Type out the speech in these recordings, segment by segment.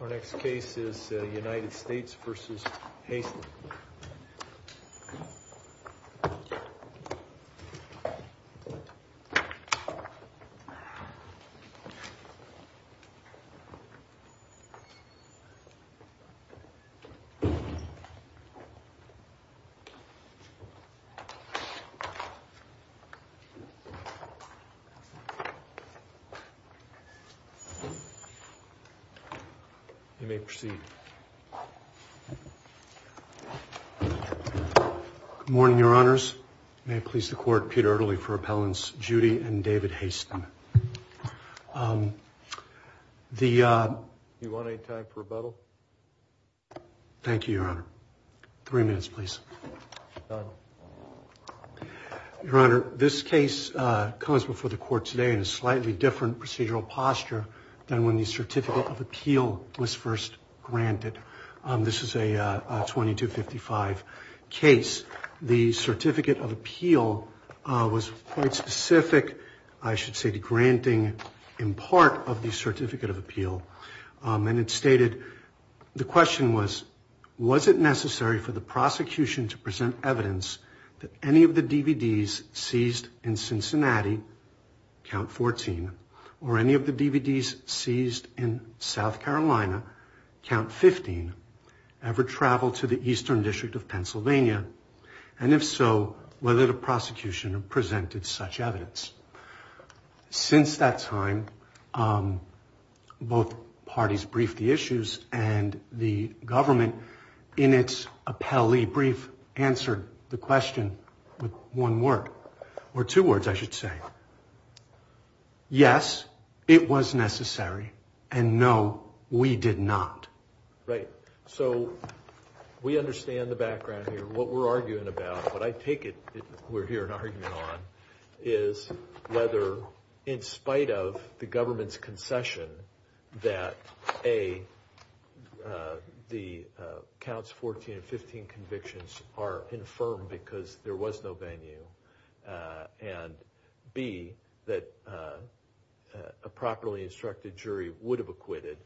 Our next case is United States vs Haisten. You may proceed. Good morning, Your Honors. May it please the Court, Peter Ederle for appellants Judy and David Haisten. The, uh... Do you want any time for rebuttal? Thank you, Your Honor. Three minutes, please. Done. Your Honor, this case comes before the Court today in a slightly different procedural posture than when the Certificate of Appeal was first granted. This is a 2255 case. The Certificate of Appeal was quite specific, I should say, to granting in part of the Certificate of Appeal. And it stated, the question was, was it necessary for the prosecution to present evidence that any of the DVDs seized in Cincinnati, Count 14, or any of the DVDs seized in South Carolina, Count 15, ever traveled to the Eastern District of Pennsylvania? And if so, whether the prosecution presented such evidence. Since that time, both parties briefed the issues, and the government, in its appellee brief, answered the question with one word. Or two words, I should say. Yes, it was necessary. And no, we did not. Right. So, we understand the background here, what we're arguing about. What I take it we're here arguing on is whether, in spite of the government's concession, that A, the Counts 14 and 15 convictions are infirm because there was no venue, and B, that a properly instructed jury would have acquitted,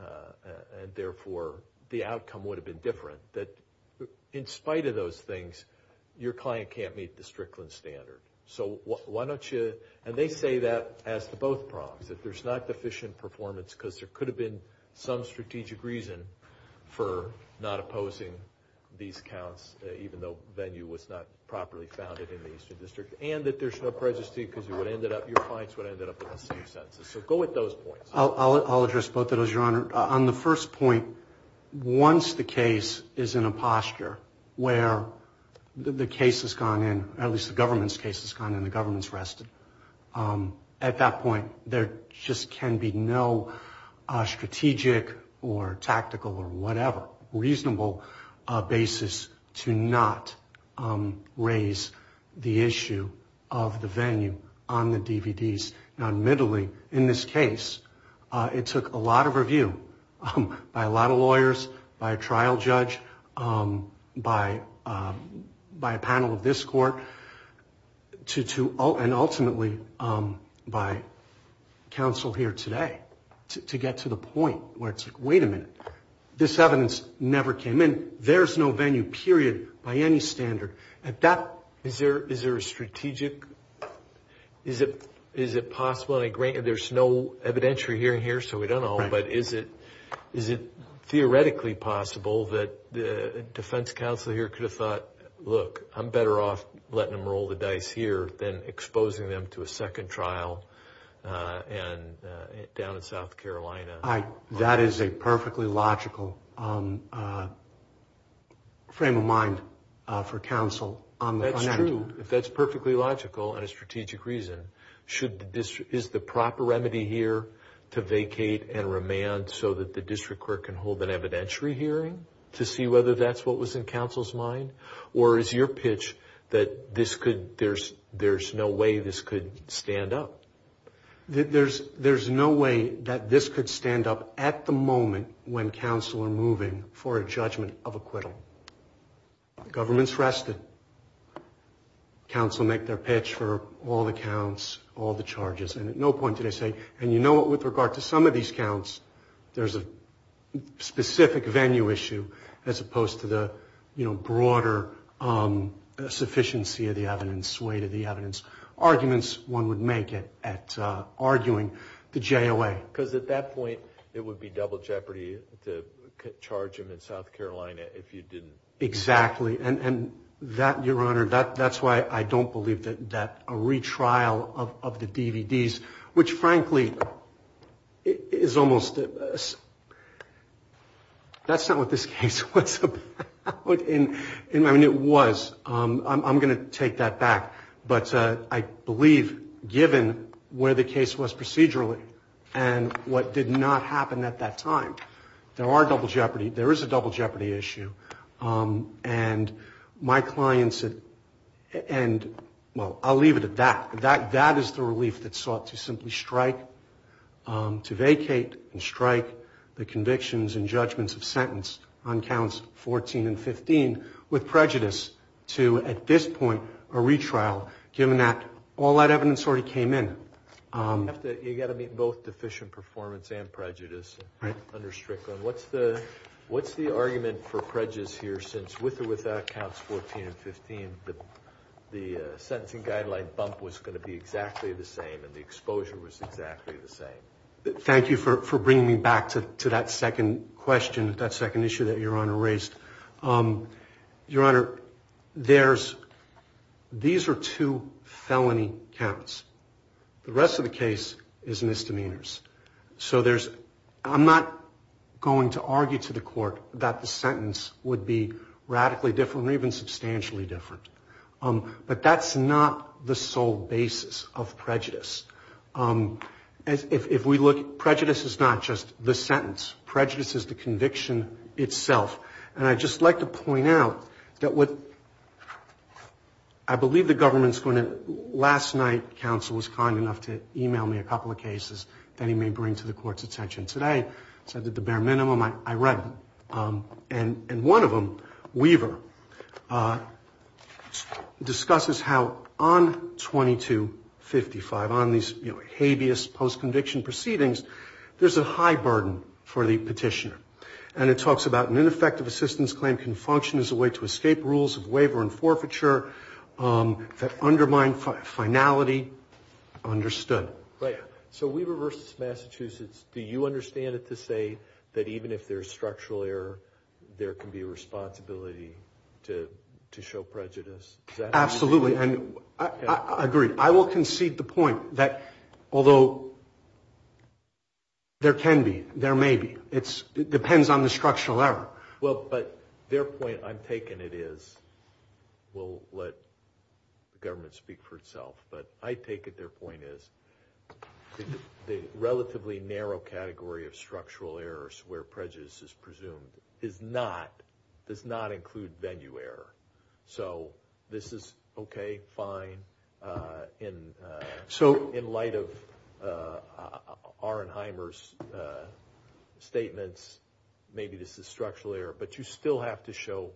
and therefore the outcome would have been different. That, in spite of those things, your client can't meet the Strickland standard. So, why don't you, and they say that as to both problems, that there's not deficient performance because there could have been some strategic reason for not opposing these counts, even though venue was not properly founded in the Eastern District, and that there's no prejudice because your clients would have ended up with the same sentences. So, go with those points. I'll address both of those, Your Honor. On the first point, once the case is in a posture where the case has gone in, at least the government's case has gone in, the government's rested, at that point there just can be no strategic or tactical or whatever reasonable basis to not raise the issue of the venue on the DVDs. Admittedly, in this case, it took a lot of review by a lot of lawyers, by a trial judge, by a panel of this court, and ultimately by counsel here today to get to the point where it's like, wait a minute, this evidence never came in. There's no venue, period, by any standard. Is there a strategic, is it possible, there's no evidentiary hearing here, so we don't know, but is it theoretically possible that the defense counsel here could have thought, look, I'm better off letting them roll the dice here than exposing them to a second trial down in South Carolina? That is a perfectly logical frame of mind for counsel. That's true. If that's perfectly logical and a strategic reason, is the proper remedy here to vacate and remand so that the district court can hold an evidentiary hearing to see whether that's what was in counsel's mind, or is your pitch that there's no way this could stand up? There's no way that this could stand up at the moment when counsel are moving for a judgment of acquittal. The government's rested. Counsel make their pitch for all the counts, all the charges, and at no point do they say, and you know what, with regard to some of these counts, there's a specific venue issue as opposed to the broader sufficiency of the evidence, arguments one would make at arguing the JOA. Because at that point it would be double jeopardy to charge them in South Carolina if you didn't. Exactly. And that, Your Honor, that's why I don't believe that a retrial of the DVDs, which frankly is almost, that's not what this case was about. I mean, it was. I'm going to take that back. But I believe given where the case was procedurally and what did not happen at that time, there are double jeopardy, there is a double jeopardy issue. And my clients, and well, I'll leave it at that. That is the relief that's sought to simply strike, to vacate and strike the convictions and judgments of sentence on counts 14 and 15 with prejudice to, at this point, a retrial given that all that evidence already came in. You've got to meet both deficient performance and prejudice under Strickland. What's the argument for prejudice here since with or without counts 14 and 15, the sentencing guideline bump was going to be exactly the same and the exposure was exactly the same? Thank you for bringing me back to that second question, that second issue that Your Honor raised. Your Honor, there's, these are two felony counts. The rest of the case is misdemeanors. So there's, I'm not going to argue to the court that the sentence would be radically different or even substantially different. But that's not the sole basis of prejudice. If we look, prejudice is not just the sentence. Prejudice is the conviction itself. And I'd just like to point out that what, I believe the government's going to, last night counsel was kind enough to e-mail me a couple of cases that he may bring to the court's attention. Today, since I did the bare minimum, I read them. And one of them, Weaver, discusses how on 2255, on these habeas post-conviction proceedings, there's a high burden for the petitioner. And it talks about an ineffective assistance claim can function as a way to escape rules of waiver and forfeiture that undermine finality understood. Right. So Weaver versus Massachusetts, do you understand it to say that even if there's structural error, there can be a responsibility to show prejudice? Absolutely. And I agree. I will concede the point that although there can be, there may be, it depends on the structural error. Well, but their point, I'm taking it is, we'll let the government speak for itself. But I take it their point is the relatively narrow category of structural errors where prejudice is presumed is not, does not include venue error. So this is okay, fine. So in light of Arnheimer's statements, maybe this is structural error. But you still have to show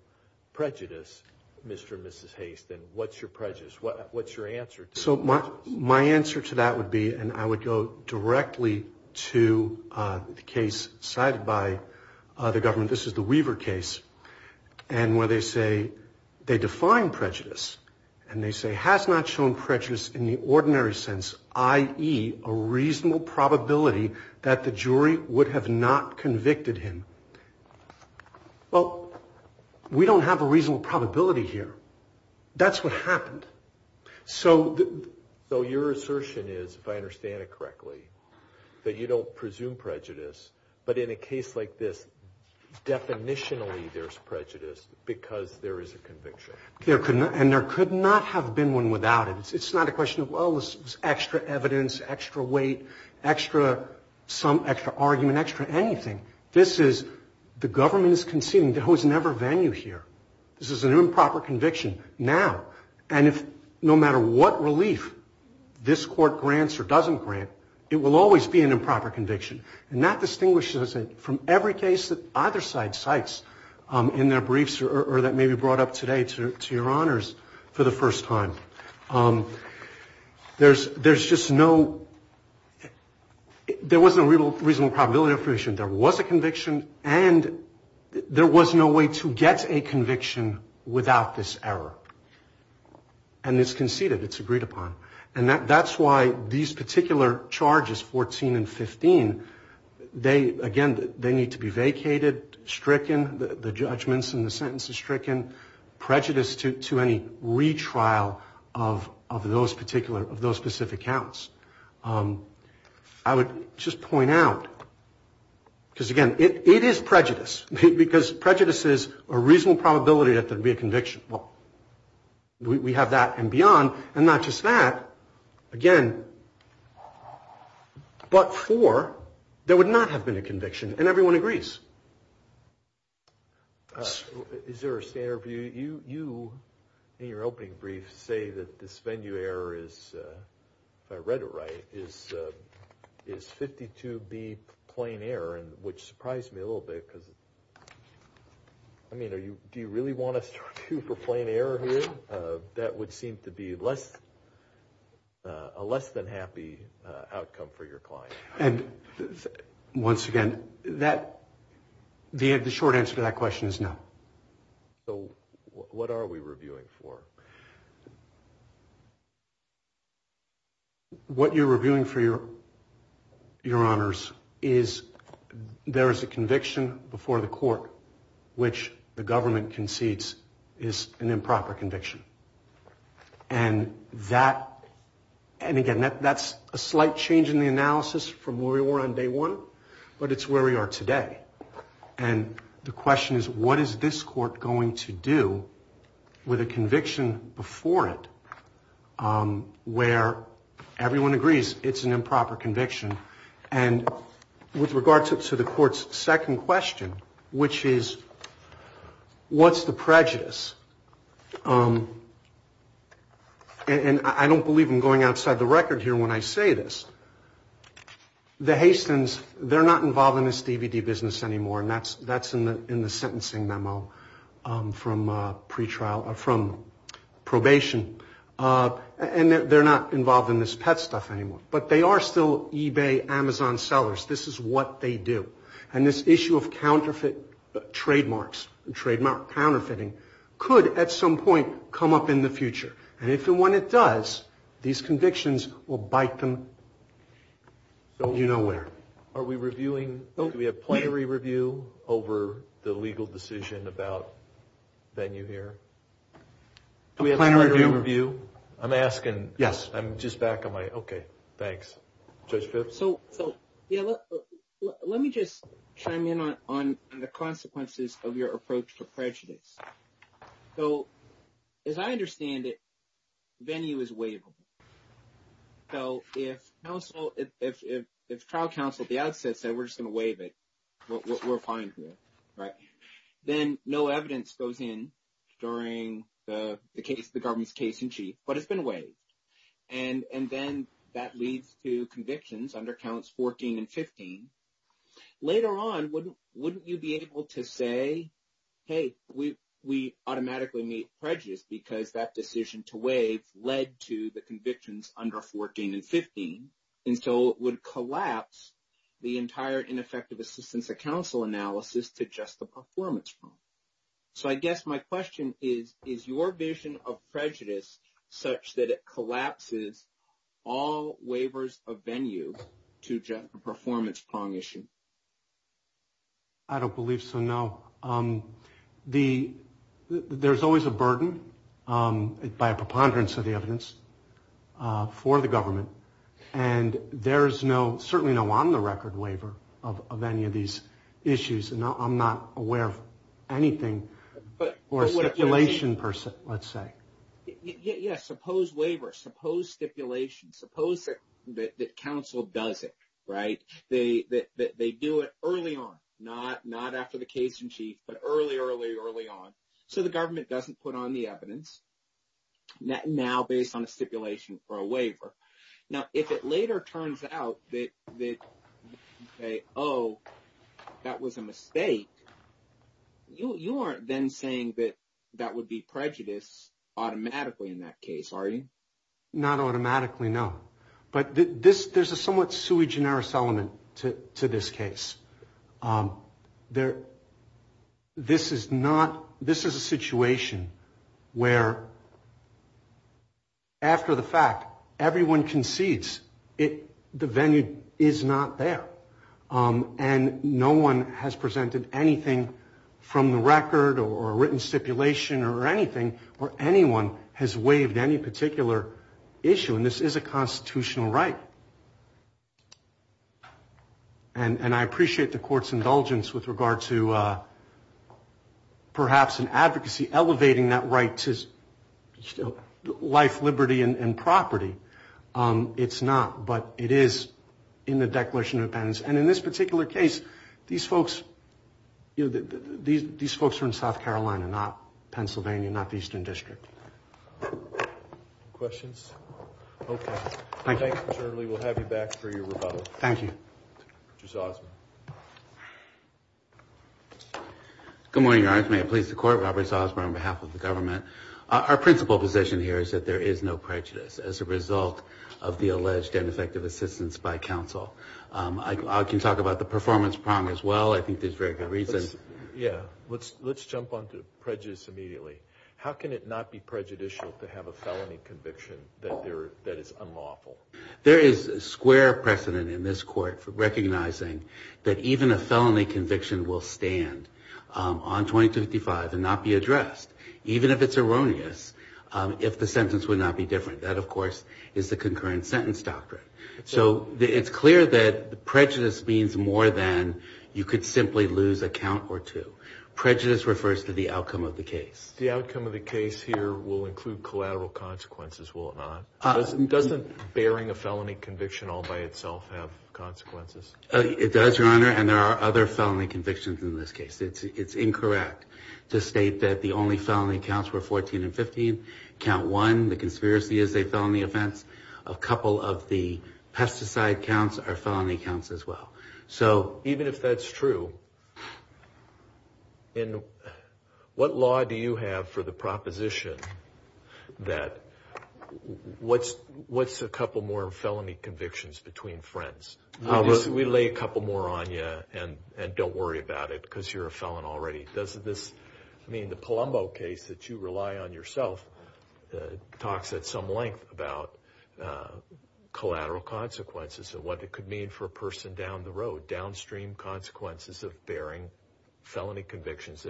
prejudice, Mr. and Mrs. Haste. And what's your prejudice? What's your answer? So my answer to that would be, and I would go directly to the case cited by the government, this is the Weaver case, and where they say they define prejudice. And they say has not shown prejudice in the ordinary sense, i.e., a reasonable probability that the jury would have not convicted him. Well, we don't have a reasonable probability here. That's what happened. So your assertion is, if I understand it correctly, that you don't presume prejudice, but in a case like this, definitionally there's prejudice because there is a conviction. And there could not have been one without it. It's not a question of, well, this is extra evidence, extra weight, extra argument, extra anything. This is, the government is conceding there was never venue here. This is an improper conviction now. And no matter what relief this court grants or doesn't grant, it will always be an improper conviction. And that distinguishes it from every case that either side cites in their briefs or that may be brought up today to your honors for the first time. There's just no, there was no reasonable probability of conviction. There was a conviction, and there was no way to get a conviction without this error. And it's conceded. It's agreed upon. And that's why these particular charges, 14 and 15, they, again, they need to be vacated, stricken, the judgments and the sentences stricken, prejudiced to any retrial of those particular, of those specific counts. I would just point out, because, again, it is prejudice, because prejudice is a reasonable probability that there would be a conviction. Well, we have that and beyond, and not just that, again, but for there would not have been a conviction. And everyone agrees. Is there a standard view? You, in your opening brief, say that this venue error is, if I read it right, is 52B plain error, which surprised me a little bit because, I mean, do you really want us to review for plain error here? That would seem to be less, a less than happy outcome for your client. And, once again, that, the short answer to that question is no. So what are we reviewing for? What you're reviewing for your honors is there is a conviction before the court which the government concedes is an improper conviction. And that, and again, that's a slight change in the analysis from where we were on day one, but it's where we are today. And the question is, what is this court going to do with a conviction before it where everyone agrees it's an improper conviction? And with regard to the court's second question, which is, what's the prejudice? And I don't believe I'm going outside the record here when I say this. The Hastins, they're not involved in this DVD business anymore, and that's in the sentencing memo from pre-trial, from probation. And they're not involved in this PET stuff anymore. But they are still eBay, Amazon sellers. This is what they do. And this issue of counterfeit trademarks, trademark counterfeiting, could, at some point, come up in the future. And if and when it does, these convictions will bite them out of nowhere. Are we reviewing, do we have plenary review over the legal decision about venue here? A plenary review? Do we have plenary review? I'm asking. Yes. I'm just back on my, okay, thanks. Judge Phipps? So, yeah, let me just chime in on the consequences of your approach to prejudice. So, as I understand it, venue is waivable. So, if trial counsel at the outset said we're just going to waive it, we're fine here, right? Then no evidence goes in during the case, the government's case in chief, but it's been waived. And then that leads to convictions under counts 14 and 15. Later on, wouldn't you be able to say, hey, we automatically made prejudice because that decision to waive led to the convictions under 14 and 15 until it would collapse the entire ineffective assistance of counsel analysis to just the performance. So, I guess my question is, is your vision of prejudice such that it collapses all waivers of venue to just the performance prong issue? I don't believe so, no. There's always a burden by a preponderance of the evidence for the government. And there's no, certainly no on the record waiver of any of these issues. And I'm not aware of anything for a stipulation person, let's say. Yeah, suppose waiver, suppose stipulation, suppose that counsel does it, right? They do it early on, not after the case in chief, but early, early, early on. So, the government doesn't put on the evidence now based on a stipulation for a waiver. Now, if it later turns out that, oh, that was a mistake, you aren't then saying that that would be prejudice automatically in that case, are you? Not automatically, no. But there's a somewhat sui generis element to this case. There, this is not, this is a situation where after the fact, everyone concedes the venue is not there. And no one has presented anything from the record or a written stipulation or anything, or anyone has waived any particular issue. And this is a constitutional right. And I appreciate the court's indulgence with regard to perhaps an advocacy elevating that right to life, liberty, and property. It's not, but it is in the Declaration of Independence. And in this particular case, these folks, you know, these folks are in South Carolina, not Pennsylvania, not the Eastern District. Any questions? Okay. Thanks, Attorney Lee. We'll have you back for your rebuttal. Thank you. Mr. Salzman. Good morning, Your Honor. May it please the Court. Robert Salzman on behalf of the government. Our principal position here is that there is no prejudice as a result of the alleged ineffective assistance by counsel. I can talk about the performance problem as well. I think there's very good reasons. Yeah. Let's jump onto prejudice immediately. How can it not be prejudicial to have a felony conviction that is unlawful? There is square precedent in this court for recognizing that even a felony conviction will stand on 2255 and not be addressed, even if it's erroneous, if the sentence would not be different. That, of course, is the concurrent sentence doctrine. So it's clear that prejudice means more than you could simply lose a count or two. Prejudice refers to the outcome of the case. The outcome of the case here will include collateral consequences, will it not? Doesn't bearing a felony conviction all by itself have consequences? It does, Your Honor, and there are other felony convictions in this case. It's incorrect to state that the only felony counts were 14 and 15. Count one, the conspiracy is a felony offense. A couple of the pesticide counts are felony counts as well. So even if that's true, what law do you have for the proposition that what's a couple more felony convictions between friends? We lay a couple more on you and don't worry about it because you're a felon already. Does this mean the Palumbo case that you rely on yourself talks at some length about collateral consequences and what it could mean for a person down the road, downstream consequences of bearing felony convictions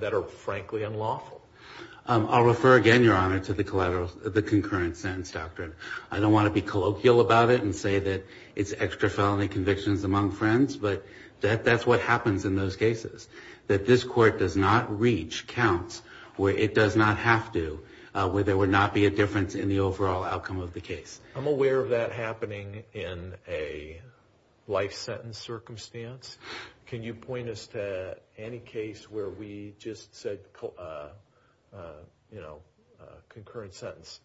that are frankly unlawful? I'll refer again, Your Honor, to the concurrent sentence doctrine. I don't want to be colloquial about it and say that it's extra felony convictions among friends, but that's what happens in those cases, that this court does not reach counts where it does not have to, where there would not be a difference in the overall outcome of the case. I'm aware of that happening in a life sentence circumstance. Can you point us to any case where we just said, you know, concurrent sentence?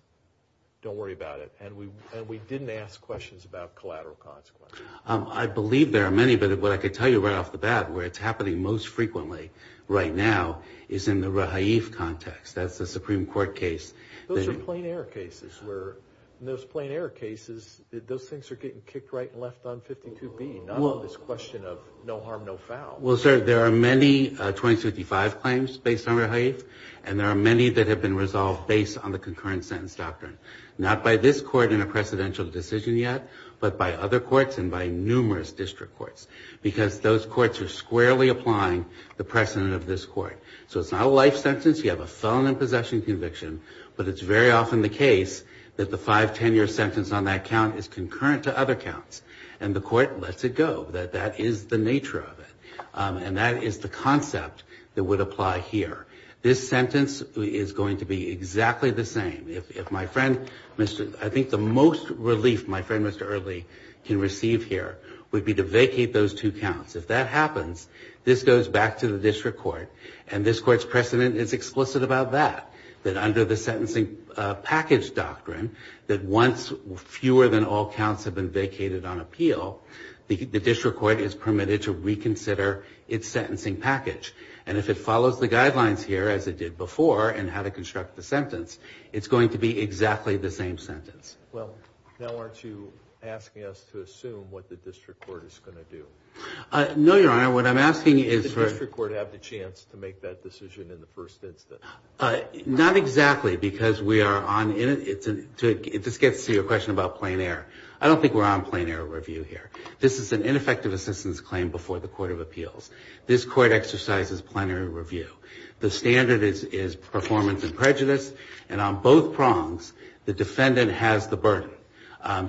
Don't worry about it. And we didn't ask questions about collateral consequences. I believe there are many, but what I could tell you right off the bat where it's happening most frequently right now is in the Rahaif context. That's a Supreme Court case. Those are plain error cases where those plain error cases, those things are getting kicked right and left on 52B, not on this question of no harm, no foul. Well, sir, there are many 2055 claims based on Rahaif, and there are many that have been resolved based on the concurrent sentence doctrine. Not by this court in a precedential decision yet, but by other courts and by numerous district courts, because those courts are squarely applying the precedent of this court. So it's not a life sentence. You have a felon in possession conviction, but it's very often the case that the five ten-year sentence on that count is concurrent to other counts, and the court lets it go, that that is the nature of it. And that is the concept that would apply here. This sentence is going to be exactly the same. If my friend, I think the most relief my friend Mr. Earley can receive here would be to vacate those two counts. If that happens, this goes back to the district court, and this court's precedent is explicit about that, that under the sentencing package doctrine, that once fewer than all counts have been vacated on appeal, the district court is permitted to reconsider its sentencing package. And if it follows the guidelines here as it did before in how to construct the sentence, it's going to be exactly the same sentence. Well, now aren't you asking us to assume what the district court is going to do? No, Your Honor. What I'm asking is for... Does the district court have the chance to make that decision in the first instance? Not exactly, because we are on... This gets to your question about plein air. I don't think we're on plein air review here. This is an ineffective assistance claim before the court of appeals. This court exercises plein air review. The standard is performance and prejudice, and on both prongs, the defendant has the burden.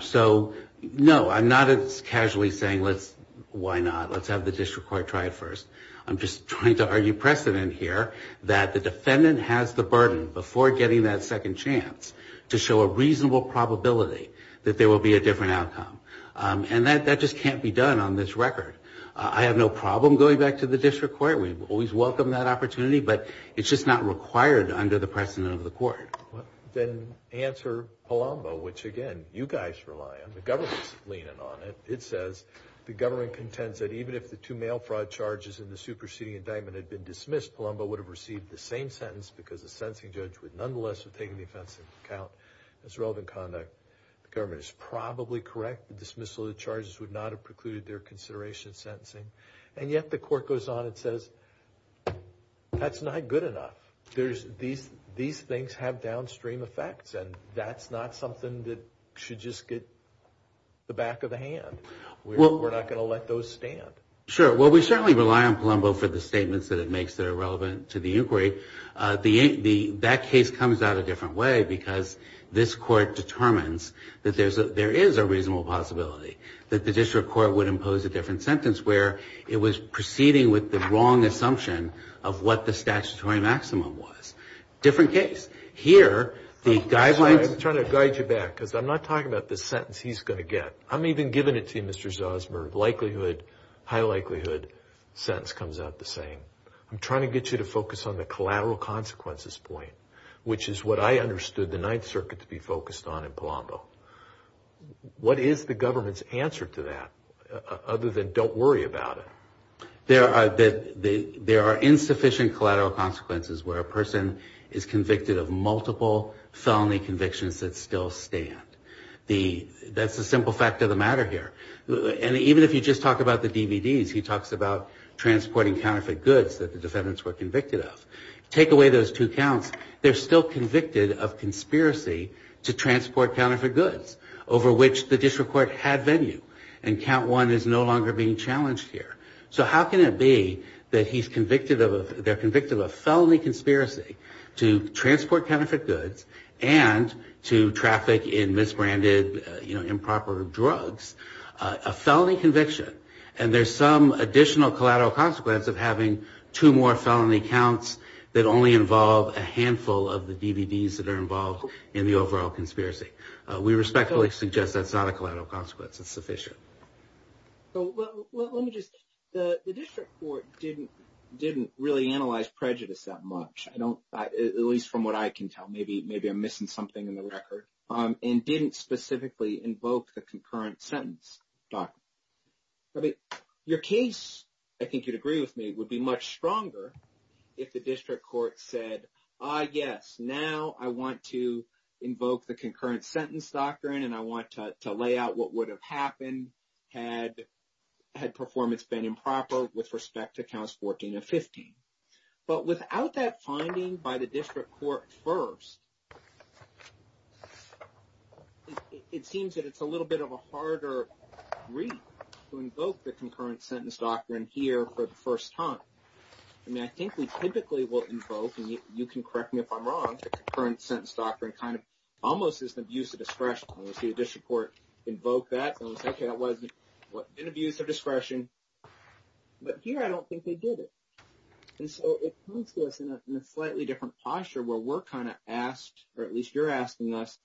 So, no, I'm not casually saying let's... Why not? Let's have the district court try it first. I'm just trying to argue precedent here that the defendant has the burden before getting that second chance to show a reasonable probability that there will be a different outcome. And that just can't be done on this record. I have no problem going back to the district court. We've always welcomed that opportunity, but it's just not required under the precedent of the court. Then answer Palumbo, which, again, you guys rely on. The government's leaning on it. It says the government contends that even if the two mail fraud charges in the superseding indictment had been dismissed, Palumbo would have received the same sentence because the sentencing judge would nonetheless have taken the offense into account. That's relevant conduct. The government is probably correct. The dismissal of the charges would not have precluded their consideration of sentencing. And yet the court goes on and says, that's not good enough. These things have downstream effects, and that's not something that should just get the back of the hand. We're not going to let those stand. Sure. Well, we certainly rely on Palumbo for the statements that it makes that are relevant to the inquiry. That case comes out a different way because this court determines that there is a reasonable possibility, that the district court would impose a different sentence where it was proceeding with the wrong assumption of what the statutory maximum was. Different case. Here, the guidelines. I'm trying to guide you back because I'm not talking about the sentence he's going to get. I'm even giving it to you, Mr. Zosmer. Likelihood, high likelihood, sentence comes out the same. I'm trying to get you to focus on the collateral consequences point, which is what I understood the Ninth Circuit to be focused on in Palumbo. What is the government's answer to that other than don't worry about it? There are insufficient collateral consequences where a person is convicted of multiple felony convictions that still stand. That's a simple fact of the matter here. And even if you just talk about the DVDs, he talks about transporting counterfeit goods that the defendants were convicted of. Take away those two counts, they're still convicted of conspiracy to transport counterfeit goods over which the district court had venue. And count one is no longer being challenged here. So how can it be that they're convicted of a felony conspiracy to transport counterfeit goods and to traffic in misbranded improper drugs, a felony conviction, and there's some additional collateral consequence of having two more felony counts that only involve a handful of the DVDs that are involved in the overall conspiracy. We respectfully suggest that's not a collateral consequence. It's sufficient. Well, let me just the district court didn't didn't really analyze prejudice that much. I don't at least from what I can tell. Maybe maybe I'm missing something in the record and didn't specifically invoke the concurrent sentence doc. I mean, your case, I think you'd agree with me, would be much stronger if the district court said, yes, now I want to invoke the concurrent sentence doctrine and I want to lay out what would have happened had performance been improper with respect to counts 14 and 15. But without that finding by the district court first, it seems that it's a little bit of a harder read to invoke the concurrent sentence doctrine here for the first time. I mean, I think we typically will invoke, and you can correct me if I'm wrong, concurrent sentence doctrine kind of almost as an abuse of discretion. The district court invoke that. OK, that was an abuse of discretion. But here I don't think they did it. And so it comes to us in a slightly different posture where we're kind of asked, or at least you're asking us,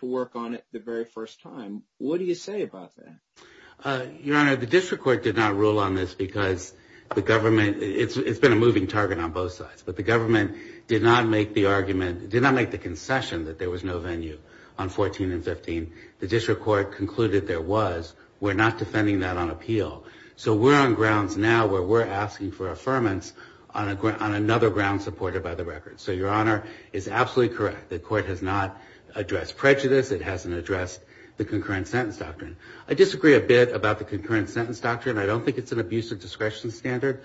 to work on it the very first time. What do you say about that? Your Honor, the district court did not rule on this because the government, it's been a moving target on both sides, but the government did not make the argument, did not make the concession that there was no venue on 14 and 15. The district court concluded there was. We're not defending that on appeal. So we're on grounds now where we're asking for affirmance on another ground supported by the record. So Your Honor is absolutely correct. The court has not addressed prejudice. It hasn't addressed the concurrent sentence doctrine. I disagree a bit about the concurrent sentence doctrine. I don't think it's an abuse of discretion standard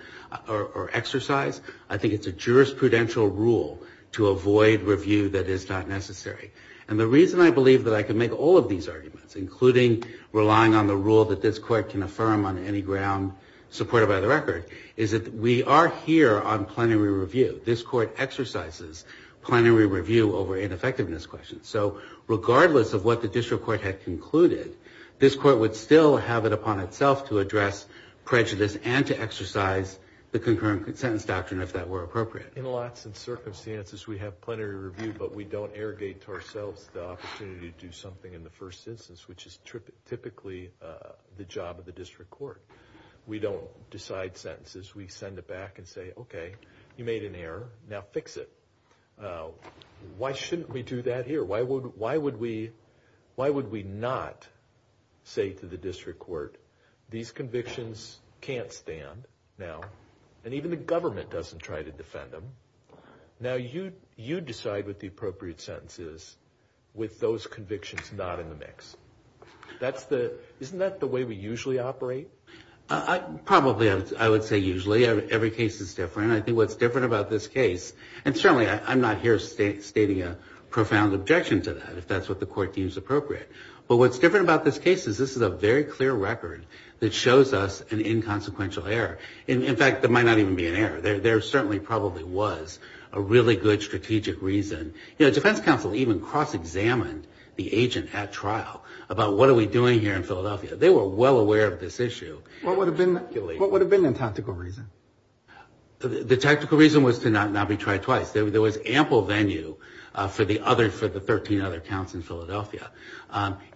or exercise. I think it's a jurisprudential rule to avoid review that is not necessary. And the reason I believe that I can make all of these arguments, including relying on the rule that this court can affirm on any ground supported by the record, is that we are here on plenary review. This court exercises plenary review over ineffectiveness questions. So regardless of what the district court had concluded, this court would still have it upon itself to address prejudice and to exercise the concurrent sentence doctrine if that were appropriate. In lots of circumstances, we have plenary review, but we don't arrogate to ourselves the opportunity to do something in the first instance, which is typically the job of the district court. We don't decide sentences. We send it back and say, okay, you made an error. Now fix it. Why shouldn't we do that here? Why would we not say to the district court, these convictions can't stand now, and even the government doesn't try to defend them. Now you decide what the appropriate sentence is with those convictions not in the mix. Isn't that the way we usually operate? Probably I would say usually. Every case is different. I think what's different about this case, and certainly I'm not here stating a profound objection to that if that's what the court deems appropriate, but what's different about this case is this is a very clear record that shows us an inconsequential error. In fact, there might not even be an error. There certainly probably was a really good strategic reason. The defense counsel even cross-examined the agent at trial about what are we doing here in Philadelphia. They were well aware of this issue. What would have been the tactical reason? The tactical reason was to not be tried twice. There was ample venue for the 13 other counts in Philadelphia.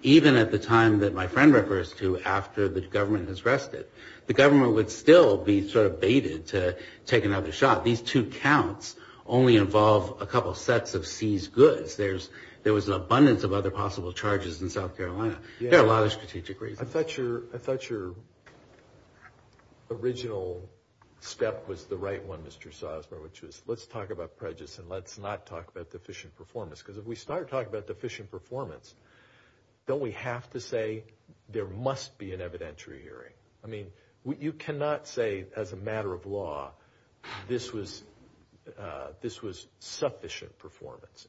Even at the time that my friend refers to after the government has rested, the government would still be sort of baited to take another shot. These two counts only involve a couple sets of seized goods. There was an abundance of other possible charges in South Carolina. There are a lot of strategic reasons. I thought your original step was the right one, Mr. Sosmer, which was let's talk about prejudice and let's not talk about deficient performance. Because if we start talking about deficient performance, don't we have to say there must be an evidentiary hearing? You cannot say as a matter of law this was sufficient performance.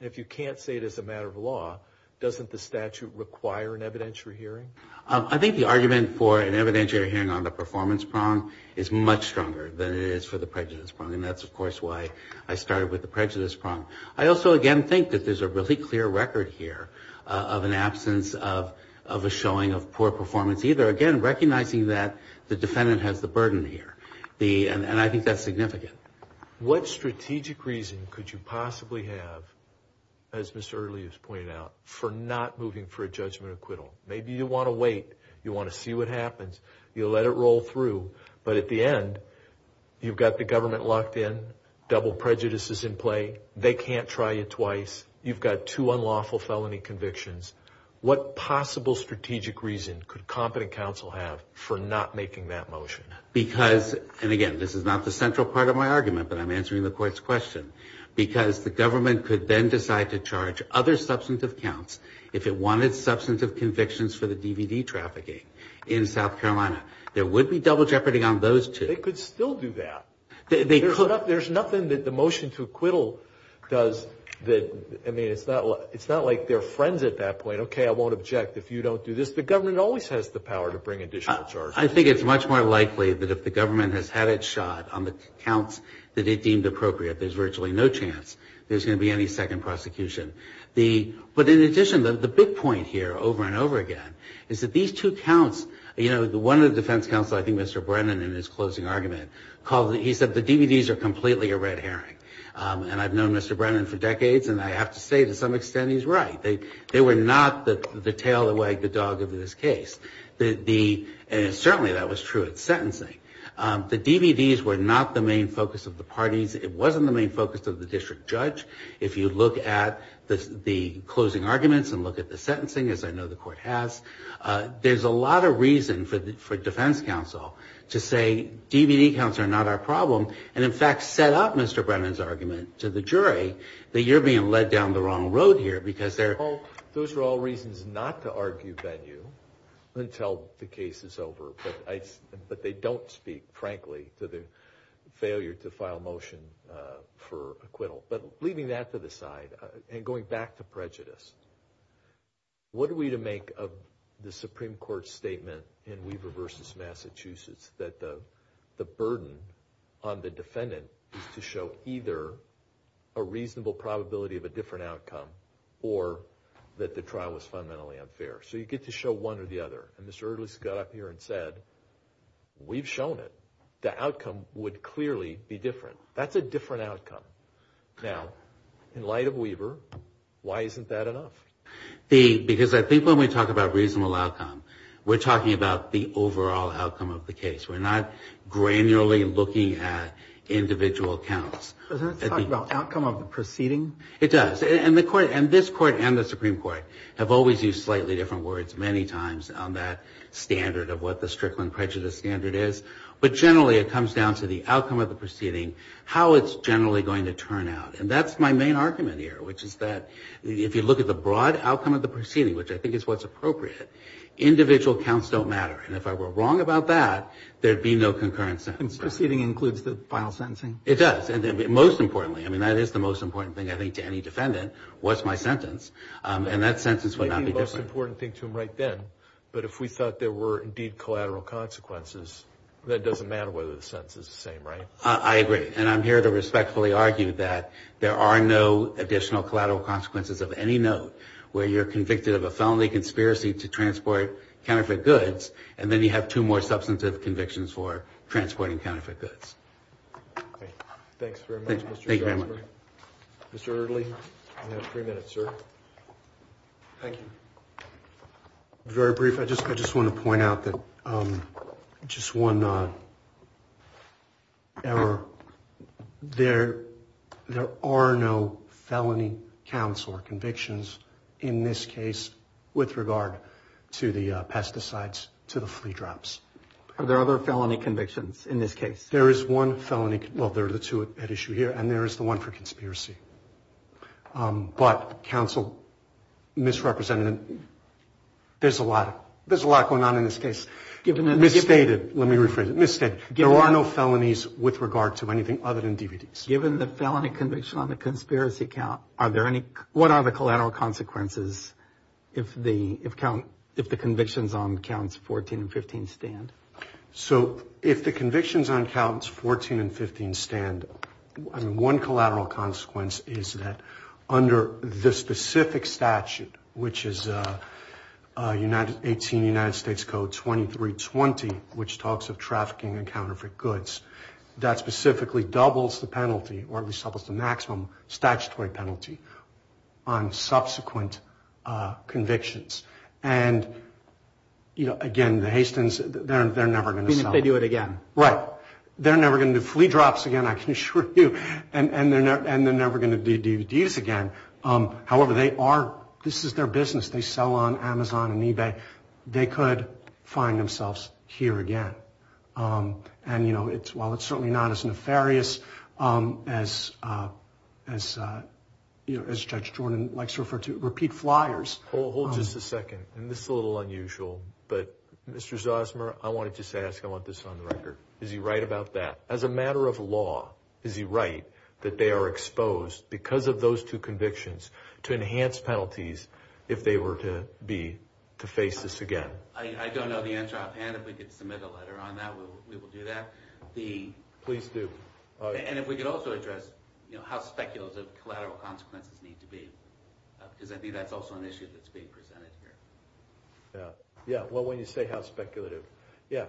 If you can't say it as a matter of law, doesn't the statute require an evidentiary hearing? I think the argument for an evidentiary hearing on the performance prong is much stronger than it is for the prejudice prong. That's, of course, why I started with the prejudice prong. I also, again, think that there's a really clear record here of an absence of a showing of poor performance, either, again, recognizing that the defendant has the burden here. And I think that's significant. What strategic reason could you possibly have, as Mr. Earley has pointed out, for not moving for a judgment acquittal? Maybe you want to wait. You want to see what happens. You let it roll through. But at the end, you've got the government locked in. Double prejudice is in play. They can't try you twice. You've got two unlawful felony convictions. What possible strategic reason could competent counsel have for not making that motion? Because, and again, this is not the central part of my argument, but I'm answering the court's question, because the government could then decide to charge other substantive counts if it wanted substantive convictions for the DVD trafficking in South Carolina. There would be double jeopardy on those two. They could still do that. There's nothing that the motion to acquittal does that, I mean, it's not like they're friends at that point. Okay, I won't object if you don't do this. The government always has the power to bring additional charges. I think it's much more likely that if the government has had its shot on the counts that it deemed appropriate, there's virtually no chance there's going to be any second prosecution. But in addition, the big point here, over and over again, is that these two counts, you know, one of the defense counsel, I think Mr. Brennan in his closing argument, he said the DVDs are completely a red herring. And I've known Mr. Brennan for decades, and I have to say to some extent he's right. They were not the tail that wagged the dog of this case. And certainly that was true at sentencing. The DVDs were not the main focus of the parties. It wasn't the main focus of the district judge. If you look at the closing arguments and look at the sentencing, as I know the court has, there's a lot of reason for defense counsel to say DVD counts are not our problem, and in fact set up Mr. Brennan's argument to the jury that you're being led down the wrong road here. Those are all reasons not to argue venue until the case is over, but they don't speak frankly to the failure to file motion for acquittal. But leaving that to the side and going back to prejudice, what are we to make of the Supreme Court's statement in Weaver v. Massachusetts that the burden on the defendant is to show either a reasonable probability of a different outcome or that the trial was fundamentally unfair? So you get to show one or the other. And Mr. Erdlis got up here and said, we've shown it. The outcome would clearly be different. That's a different outcome. Now, in light of Weaver, why isn't that enough? Because I think when we talk about reasonable outcome, we're talking about the overall outcome of the case. We're not granularly looking at individual counts. Doesn't that talk about outcome of the proceeding? It does. And this court and the Supreme Court have always used slightly different words many times on that standard of what the Strickland prejudice standard is, but generally it comes down to the outcome of the proceeding, how it's generally going to turn out. And that's my main argument here, which is that if you look at the broad outcome of the proceeding, which I think is what's appropriate, individual counts don't matter. And if I were wrong about that, there'd be no concurrent sentence. And proceeding includes the final sentencing? It does. And most importantly, I mean, that is the most important thing, I think, to any defendant, what's my sentence? And that sentence would not be different. Maybe the most important thing to him right then, but if we thought there were indeed collateral consequences, that doesn't matter whether the sentence is the same, right? I agree. And I'm here to respectfully argue that there are no additional collateral consequences of any note where you're convicted of a felony conspiracy to transport counterfeit goods, and then you have two more substantive convictions for transporting counterfeit goods. Okay. Thanks very much, Mr. Sharfstein. Thank you very much. Mr. Eardley, you have three minutes, sir. Thank you. Very brief. I just want to point out that just one error. There are no felony counts or convictions in this case with regard to the pesticides, to the flea drops. Are there other felony convictions in this case? There is one felony, well, there are the two at issue here, and there is the one for conspiracy. But counsel misrepresented it. There's a lot going on in this case. Misstated. Let me rephrase it. Misstated. There are no felonies with regard to anything other than DVDs. Given the felony conviction on the conspiracy count, what are the collateral consequences if the convictions on counts 14 and 15 stand? So if the convictions on counts 14 and 15 stand, one collateral consequence is that under the specific statute, which is 18 United States Code 2320, which talks of trafficking in counterfeit goods, that specifically doubles the penalty or at least doubles the maximum statutory penalty on subsequent convictions. And, you know, again, the Hastins, they're never going to sell. Even if they do it again. Right. They're never going to do flea drops again, I can assure you. And they're never going to do DVDs again. However, they are, this is their business. They sell on Amazon and eBay. They could find themselves here again. And, you know, while it's certainly not as nefarious as Judge Jordan likes to refer to, repeat flyers. Hold just a second. And this is a little unusual, but Mr. Zosmer, I want to just ask, I want this on the record. Is he right about that? As a matter of law, is he right that they are exposed because of those two convictions to enhance penalties if they were to be, to face this again? I don't know the answer offhand. If we could submit a letter on that, we will do that. Please do. And if we could also address, you know, how speculative collateral consequences need to be. Because I think that's also an issue that's being presented here. Yeah. Yeah. Well, when you say how speculative. Yeah.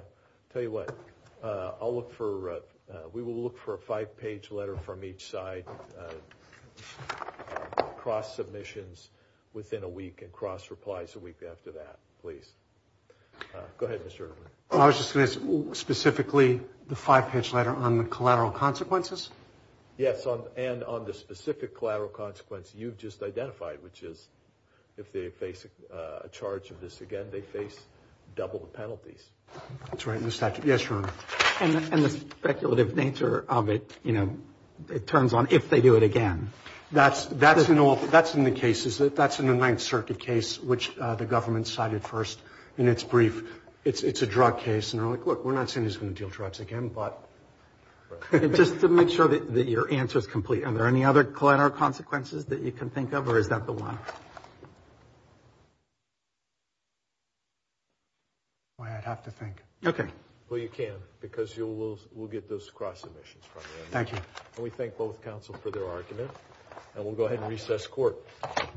Tell you what. I'll look for, we will look for a five-page letter from each side, cross-submissions within a week, and cross-replies a week after that. Please. Go ahead, Mr. Erdman. I was just going to ask, specifically, the five-page letter on the collateral consequences? Yes, and on the specific collateral consequence you've just identified, which is if they face a charge of this again, they face double the penalties. That's right in the statute. Yes, Your Honor. And the speculative nature of it, you know, it turns on if they do it again. That's in all, that's in the cases, that's in the Ninth Circuit case, which the government cited first in its brief. It's a drug case, and they're like, look, we're not saying he's going to deal drugs again, but. Just to make sure that your answer is complete, are there any other collateral consequences that you can think of, or is that the one? Why, I'd have to think. Okay. Well, you can, because we'll get those cross-submissions from you. Thank you. And we thank both counsel for their argument, and we'll go ahead and recess court.